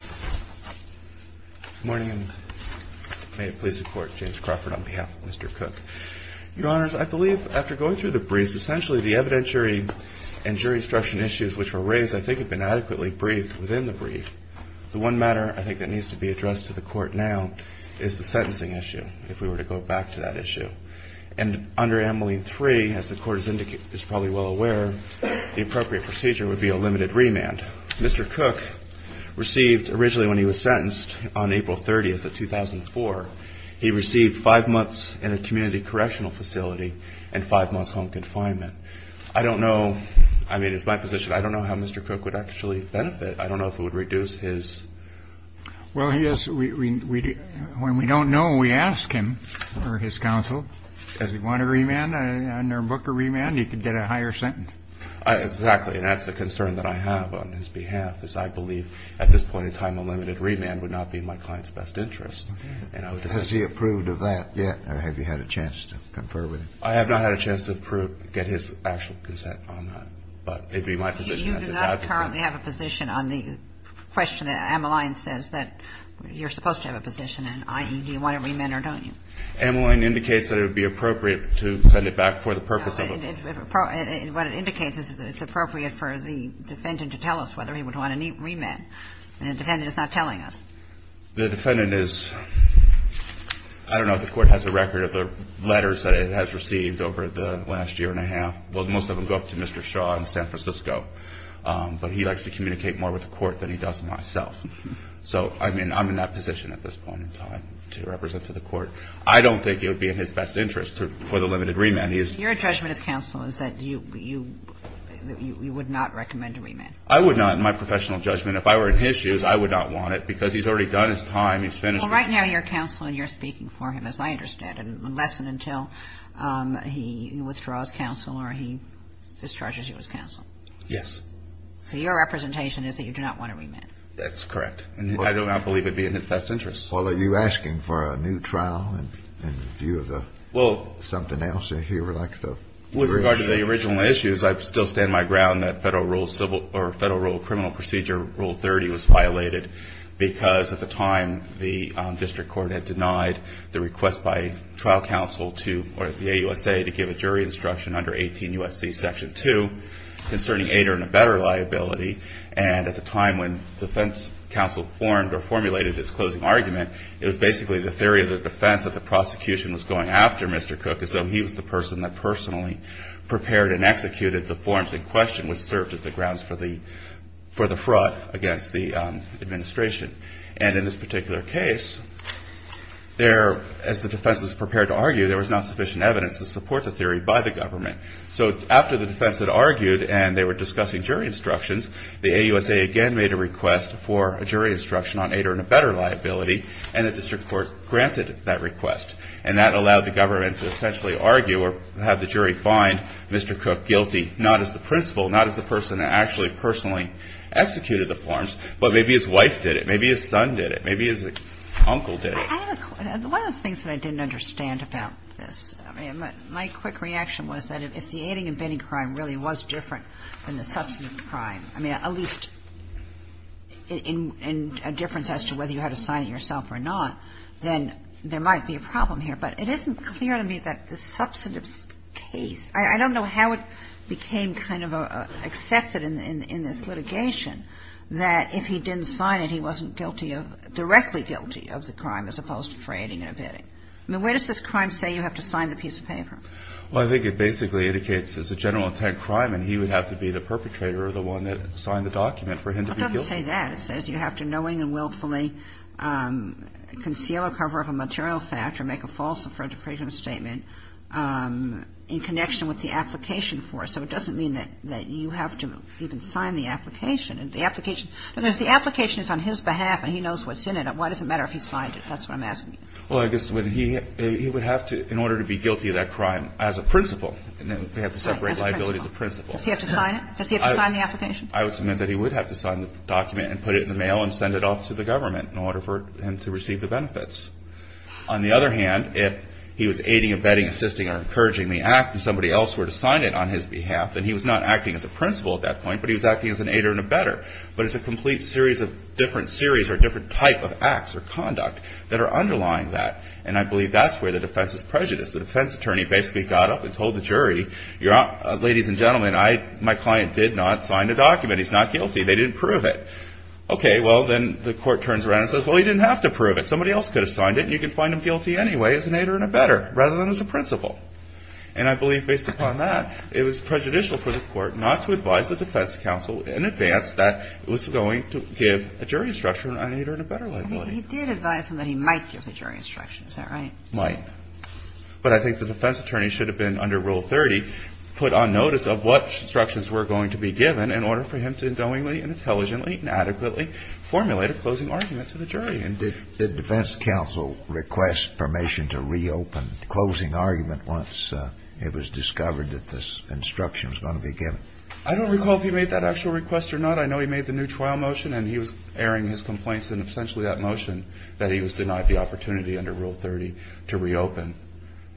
Good morning, and may it please the Court, James Crawford on behalf of Mr. Cook. Your Honors, I believe after going through the briefs, essentially the evidentiary and jury instruction issues which were raised I think have been adequately briefed within the brief. The one matter I think that needs to be addressed to the Court now is the sentencing issue, if we were to go back to that issue. And under Ameline 3, as the Court is probably well aware, the appropriate procedure would be a limited remand. Mr. Cook received, originally when he was sentenced on April 30th of 2004, he received 5 months in a community correctional facility and 5 months home confinement. I don't know, I mean it's my position, I don't know how Mr. Cook would actually benefit. I don't know if it would reduce his... Well, yes, when we don't know, we ask him or his counsel, does he want a remand, under Booker remand, he could get a higher sentence. Exactly. And that's the concern that I have on his behalf, is I believe at this point in time a limited remand would not be in my client's best interest. Has he approved of that yet, or have you had a chance to confer with him? I have not had a chance to approve, get his actual consent on that. But it would be my position as an advocate... You do not currently have a position on the question that Ameline says that you're supposed to have a position in, i.e., do you want a remand or don't you? Ameline indicates that it would be appropriate to send it back for the purpose of... What it indicates is that it's appropriate for the defendant to tell us whether he would want a remand. And the defendant is not telling us. The defendant is, I don't know if the Court has a record of the letters that it has received over the last year and a half. Well, most of them go up to Mr. Shaw in San Francisco. But he likes to communicate more with the Court than he does with myself. So, I mean, I'm in that position at this point in time to represent to the Court. I don't think it would be in his best interest for the limited remand. Your judgment as counsel is that you would not recommend a remand. I would not in my professional judgment. If I were in his shoes, I would not want it because he's already done his time. He's finished... Well, right now you're counsel and you're speaking for him, as I understand it, unless and until he withdraws counsel or he discharges you as counsel. Yes. So your representation is that you do not want a remand. That's correct. And I do not believe it would be in his best interest. Well, are you asking for a new trial in view of the... Well... Something else in here like the... With regard to the original issues, I still stand my ground that Federal Rule Criminal Procedure Rule 30 was violated because at the time the District Court had denied the request by trial counsel to, or the AUSA, to give a jury instruction under 18 U.S.C. Section 2 concerning aid or in a better liability. And at the time when defense counsel formed or formulated this closing argument, it was basically the theory of the defense that the prosecution was going after Mr. Cook as though he was the person that personally prepared and executed the forms in question which served as the grounds for the fraud against the administration. And in this particular case, as the defense was prepared to argue, there was not sufficient evidence to support the theory by the government. So after the defense had argued and they were discussing jury instructions, the AUSA again made a request for a jury instruction on aid or in a better liability and the District Court granted that request. And that allowed the government to essentially argue or have the jury find Mr. Cook guilty, not as the principal, not as the person that actually personally executed the forms, but maybe his wife did it, maybe his son did it, maybe his uncle did it. One of the things that I didn't understand about this, I mean, my quick reaction was that if the aiding and bidding crime really was different than the substantive crime, I mean, at least in a difference as to whether you had to sign it yourself or not, then there might be a problem here. But it isn't clear to me that the substantive case, I don't know how it became kind of accepted in this litigation that if he didn't sign it, he wasn't guilty of, directly guilty of the crime as opposed to fraying and abetting. I mean, where does this crime say you have to sign the piece of paper? Well, I think it basically indicates it's a general intent crime and he would have to be the perpetrator or the one that signed the document for him to be guilty. Well, it doesn't say that. It says you have to knowingly and willfully conceal or cover up a material fact or make a false or fraudulent statement in connection with the application for it. So it doesn't mean that you have to even sign the application. The application is on his behalf and he knows what's in it. Why does it matter if he signed it? That's what I'm asking you. Well, I guess he would have to, in order to be guilty of that crime as a principal, they have to separate liability as a principal. Does he have to sign it? Does he have to sign the application? I would submit that he would have to sign the document and put it in the mail and send it off to the government in order for him to receive the benefits. On the other hand, if he was aiding, abetting, assisting or encouraging the act and somebody else were to sign it on his behalf, then he was not acting as a principal at that point, but he was acting as an aider and abetter. But it's a complete series of different series or different type of acts or conduct that are underlying that. And I believe that's where the defense is prejudiced. The defense attorney basically got up and told the jury, ladies and gentlemen, my client did not sign the document. He's not guilty. They didn't prove it. Okay. Well, then the court turns around and says, well, he didn't have to prove it. Somebody else could have signed it and you can find him guilty anyway as an aider and abetter rather than as a principal. And I believe based upon that, it was prejudicial for the court not to advise the defense counsel in advance that it was going to give a jury instruction on an aider and abetter liability. He did advise him that he might give the jury instruction. Is that right? Might. But I think the defense attorney should have been under Rule 30 put on notice of what instructions were going to be given in order for him to knowingly and intelligently and adequately formulate a closing argument to the jury. And did defense counsel request permission to reopen closing argument once it was discovered that this instruction was going to be given? I don't recall if he made that actual request or not. I know he made the new trial motion and he was airing his complaints and essentially that motion that he was denied the opportunity under Rule 30 to reopen.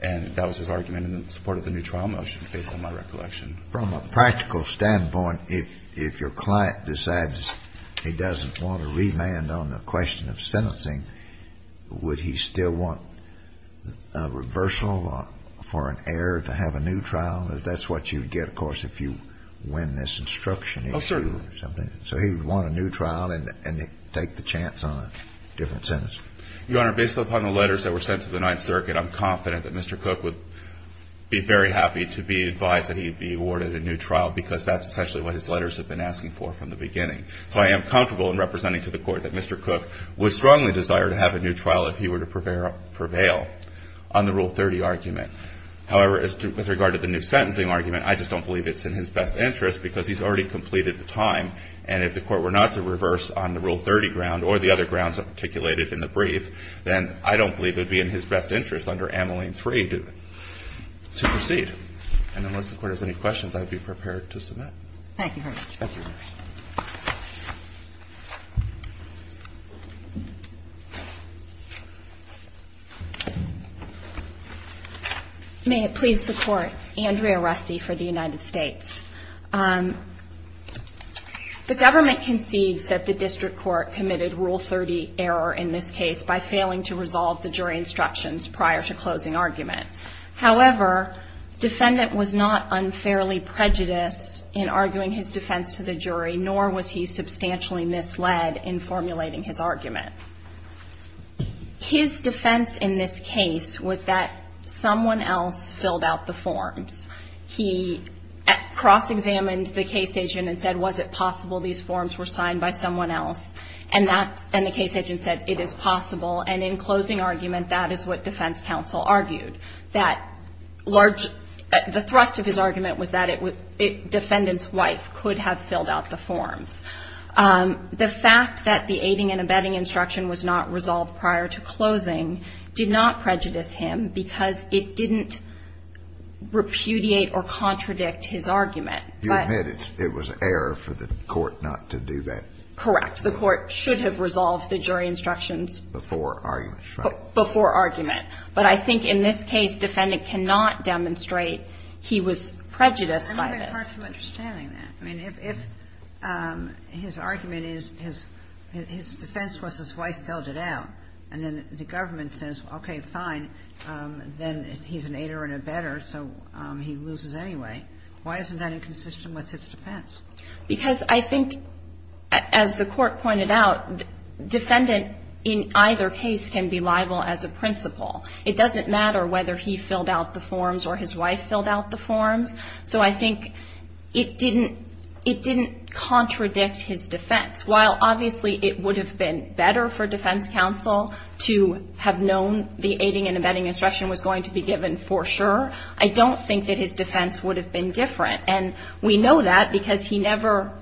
And that was his argument in support of the new trial motion, based on my recollection. From a practical standpoint, if your client decides he doesn't want to remand on the question of sentencing, would he still want a reversal for an air to have a new trial? Because that's what you would get, of course, if you win this instruction. Oh, certainly. So he would want a new trial and take the chance on a different sentence. Your Honor, based upon the letters that were sent to the Ninth Circuit, I'm confident that Mr. Cook would be very happy to be advised that he would be awarded a new trial because that's essentially what his letters have been asking for from the beginning. So I am comfortable in representing to the Court that Mr. Cook would strongly desire to have a new trial if he were to prevail on the Rule 30 argument. However, with regard to the new sentencing argument, I just don't believe it's in his best interest because he's already completed the time. And if the Court were not to reverse on the Rule 30 ground or the other grounds articulated in the brief, then I don't believe it would be in his best interest under Ameline 3 to proceed. And unless the Court has any questions, I would be prepared to submit. Thank you very much. Thank you, Your Honor. May it please the Court. Andrea Russi for the United States. The government concedes that the District Court committed Rule 30 error in this case by failing to resolve the jury instructions prior to closing argument. However, defendant was not unfairly prejudiced in arguing his defense to the jury nor was he substantially misled in formulating his argument. His defense in this case was that someone else filled out the forms. He cross-examined the case agent and said, was it possible these forms were signed by someone else? And the case agent said, it is possible. And in closing argument, that is what defense counsel argued, that the thrust of his The fact that the aiding and abetting instruction was not resolved prior to closing did not prejudice him because it didn't repudiate or contradict his argument. You admit it was error for the Court not to do that? Correct. The Court should have resolved the jury instructions before argument. But I think in this case, defendant cannot demonstrate he was prejudiced by this. It's hard to understand that. I mean, if his argument is his defense was his wife filled it out, and then the government says, okay, fine, then he's an aider and abetter, so he loses anyway. Why isn't that inconsistent with his defense? Because I think, as the Court pointed out, defendant in either case can be liable as a principal. It doesn't matter whether he filled out the forms or his wife filled out the forms. So I think it didn't contradict his defense. While obviously it would have been better for defense counsel to have known the aiding and abetting instruction was going to be given for sure, I don't think that his defense would have been different. And we know that because he never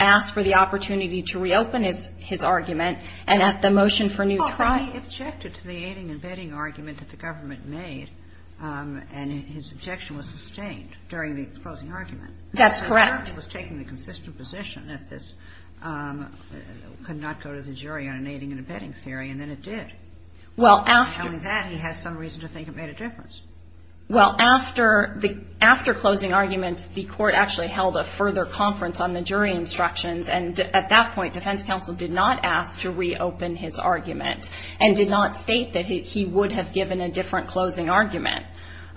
asked for the opportunity to reopen his argument. And at the motion for new trial he objected to the aiding and abetting argument that the government made, and his objection was sustained during the closing argument. That's correct. He was taking the consistent position that this could not go to the jury on an aiding and abetting theory, and then it did. Well, after... Telling that, he has some reason to think it made a difference. Well, after closing arguments, the Court actually held a further conference on the jury instructions, and at that point defense counsel did not ask to reopen his argument and did not state that he would have given a different closing argument.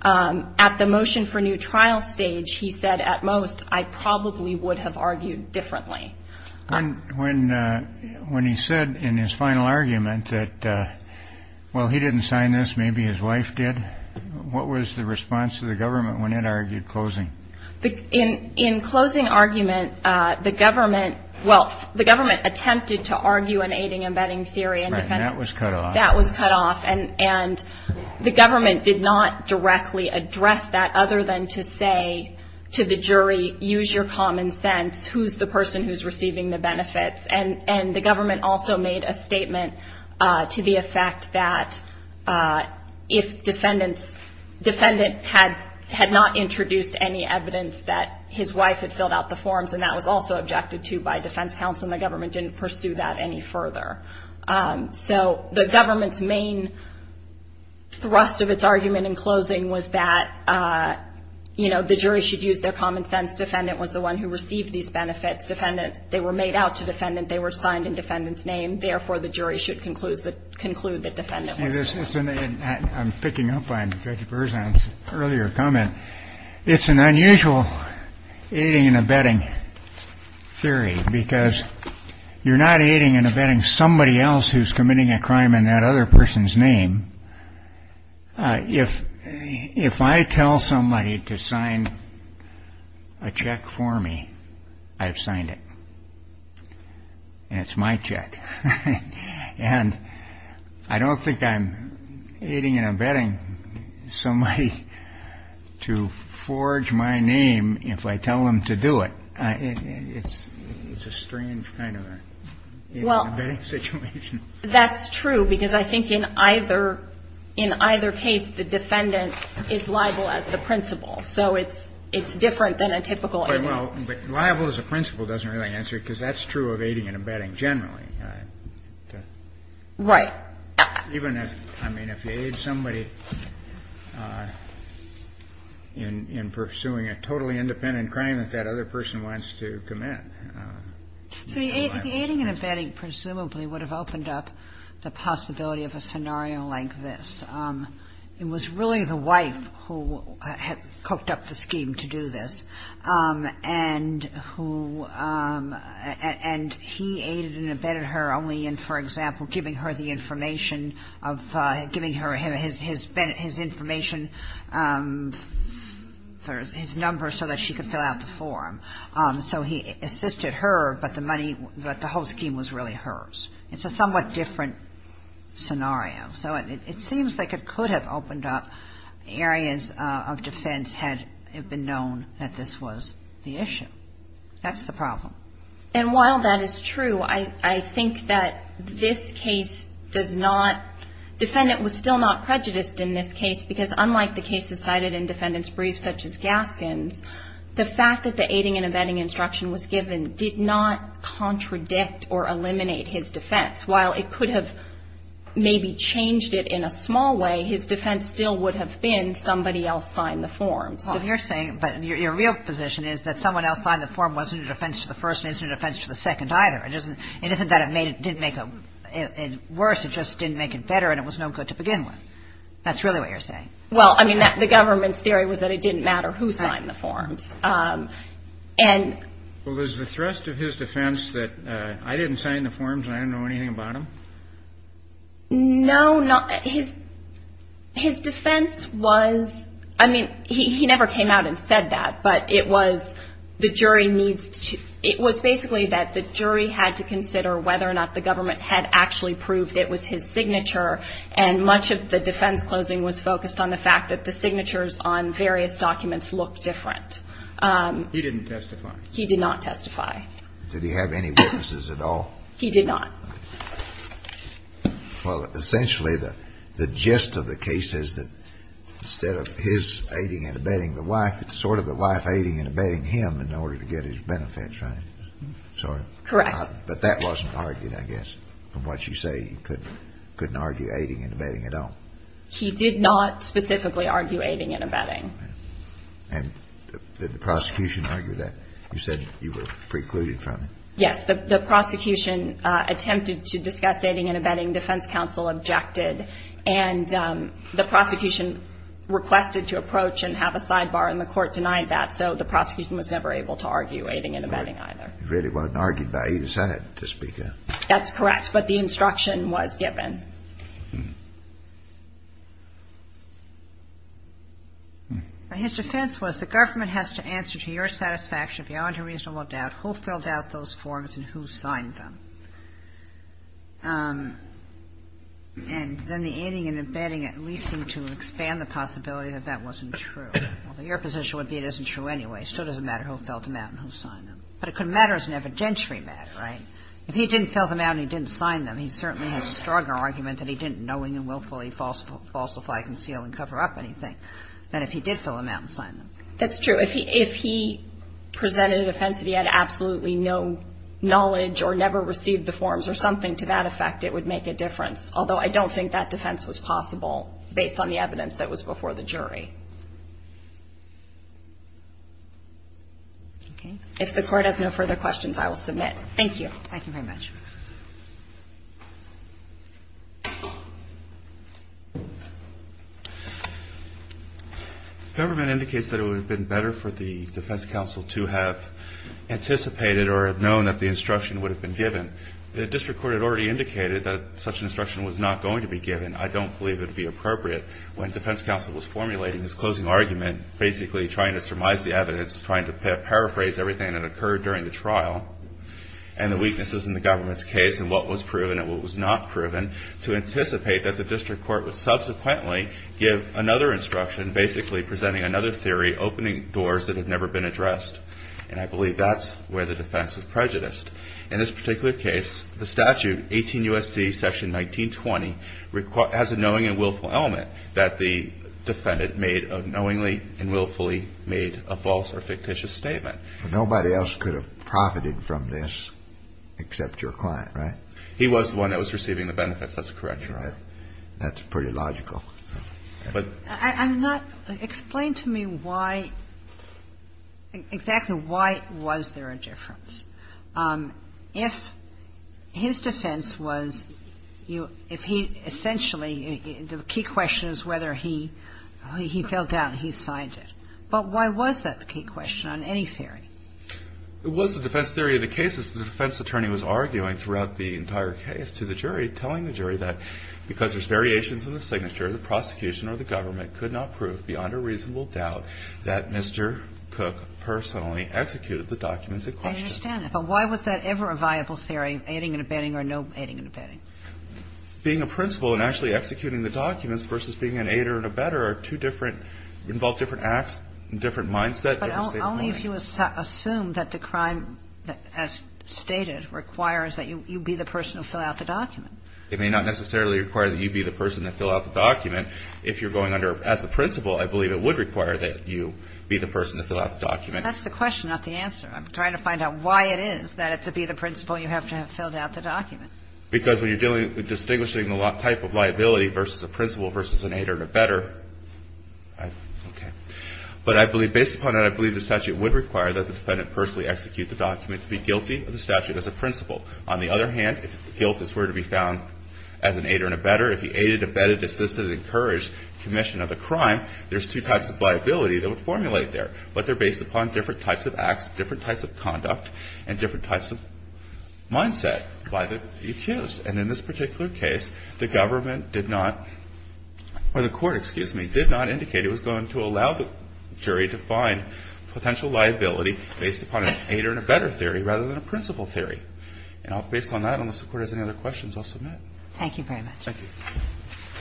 At the motion for new trial stage, he said, at most, I probably would have argued differently. When he said in his final argument that, well, he didn't sign this, maybe his wife did, what was the response of the government when it argued closing? In closing argument, the government... Right, and that was cut off. That was cut off. And the government did not directly address that other than to say to the jury, use your common sense, who's the person who's receiving the benefits? And the government also made a statement to the effect that if defendants... defendant had not introduced any evidence that his wife had filled out the forms, and that was also objected to by defense counsel, then the government didn't pursue that any further. So the government's main thrust of its argument in closing was that, you know, the jury should use their common sense. Defendant was the one who received these benefits. Defendant, they were made out to defendant. They were signed in defendant's name. Therefore, the jury should conclude that defendant was... I'm picking up on Judge Berzahn's earlier comment. It's an unusual aiding and abetting theory because you're not aiding and abetting somebody else who's committing a crime in that other person's name. If I tell somebody to sign a check for me, I've signed it. And it's my check. And I don't think I'm aiding and abetting somebody to forge my name if I tell them to do it. It's a strange kind of aiding and abetting situation. Well, that's true because I think in either case, the defendant is liable as the principal. So it's different than a typical aiding and abetting. But liable as a principal doesn't really answer it because that's true of aiding and abetting generally. Right. Even if, I mean, if you aid somebody in pursuing a totally independent crime that that other person wants to commit. So the aiding and abetting presumably would have opened up the possibility of a scenario like this. It was really the wife who had cooked up the scheme to do this and he aided and abetted her only in, for example, giving her the information of giving her his information, his number so that she could fill out the form. So he assisted her, but the money, the whole scheme was really hers. It's a somewhat different scenario. So it seems like it could have opened up areas of defense had it been known that this was the issue. That's the problem. And while that is true, I think that this case does not, defendant was still not prejudiced in this case because unlike the cases cited in defendants' briefs such as Gaskin's, the fact that the aiding and abetting instruction was given did not contradict or eliminate his defense. While it could have maybe changed it in a small way, his defense still would have been somebody else signed the form. But your real position is that someone else signed the form wasn't a defense to the first and isn't a defense to the second either. It isn't that it didn't make it worse, it just didn't make it better and it was no good to begin with. That's really what you're saying. Well, I mean, the government's theory was that it didn't matter who signed the forms. Well, was the thrust of his defense that I didn't sign the forms and I didn't know anything about them? No. His defense was, I mean, he never came out and said that, but it was the jury needs to, it was basically that the jury had to consider whether or not the government had actually proved it was his signature and much of the defense closing was focused on the fact that the signatures on various documents looked different. He didn't testify. He did not testify. Did he have any witnesses at all? He did not. Well, essentially the gist of the case is that instead of his aiding and abetting the wife, it's sort of the wife aiding and abetting him in order to get his benefits, right? Correct. But that wasn't argued, I guess, from what you say. He couldn't argue aiding and abetting at all. He did not specifically argue aiding and abetting. And did the prosecution argue that? You said you were precluded from it. Yes. The prosecution attempted to discuss aiding and abetting. Defense counsel objected. And the prosecution requested to approach and have a sidebar, and the court denied that. So the prosecution was never able to argue aiding and abetting either. It really wasn't argued by either side, to speak of. That's correct. But the instruction was given. His defense was the government has to answer to your satisfaction beyond a reasonable doubt. Who filled out those forms and who signed them? And then the aiding and abetting at least seemed to expand the possibility that that wasn't true. Well, your position would be it isn't true anyway. It still doesn't matter who filled them out and who signed them. But it could matter as an evidentiary matter, right? If he didn't fill them out and he didn't sign them, he certainly has a stronger argument that he didn't, knowing and willfully falsify, conceal, and cover up anything than if he did fill them out and sign them. That's true. If he presented a defense that he had absolutely no knowledge or never received the forms or something to that effect, it would make a difference, although I don't think that defense was possible based on the evidence that was before the jury. If the Court has no further questions, I will submit. Thank you. Thank you very much. The government indicates that it would have been better for the defense counsel to have anticipated or have known that the instruction would have been given. The district court had already indicated that such an instruction was not going to be given. I don't believe it would be appropriate. When defense counsel was formulating his closing argument, basically trying to surmise the evidence, trying to paraphrase everything that occurred during the trial, and the weaknesses in the government's approach, to anticipate that the district court would subsequently give another instruction, basically presenting another theory, opening doors that had never been addressed. And I believe that's where the defense was prejudiced. In this particular case, the statute, 18 U.S.C. section 1920, has a knowing and willful element that the defendant made of knowingly and willfully made a false or fictitious statement. Nobody else could have profited from this except your client. Right? He was the one that was receiving the benefits. That's correct. Right. That's pretty logical. Explain to me why, exactly why was there a difference? If his defense was, if he essentially, the key question is whether he fell down and he signed it. But why was that the key question on any theory? It was the defense theory of the cases the defense attorney was arguing throughout the entire case to the jury, telling the jury that because there's variations in the signature, the prosecution or the government could not prove beyond a reasonable doubt that Mr. Cook personally executed the documents in question. I understand that. But why was that ever a viable theory, aiding and abetting or no aiding and abetting? Being a principal and actually executing the documents versus being an aider and abetter are two different, involve different acts and different mindsets. But only if you assume that the crime, as stated, requires that you be the person to fill out the document. It may not necessarily require that you be the person to fill out the document. If you're going under, as the principal, I believe it would require that you be the person to fill out the document. That's the question, not the answer. I'm trying to find out why it is that to be the principal you have to have filled out the document. Because when you're dealing with distinguishing the type of liability versus a principal versus an aider and abetter, I, okay. But I believe, based upon that, I believe the statute would require that the defendant personally execute the document to be guilty of the statute as a principal. On the other hand, if guilt is to be found as an aider and abetter, if he aided, abetted, assisted, encouraged commission of the crime, there's two types of liability that would formulate there. But they're based upon different types of acts, different types of conduct, and different types of mindset by the accused. And in this particular case, the government did not, or the court, excuse me, did not indicate it was going to allow the jury to find potential liability based upon an aider and abetter theory rather than a principal theory. And based on that, unless the Court has any other questions, I'll submit. Thank you very much. Thank you.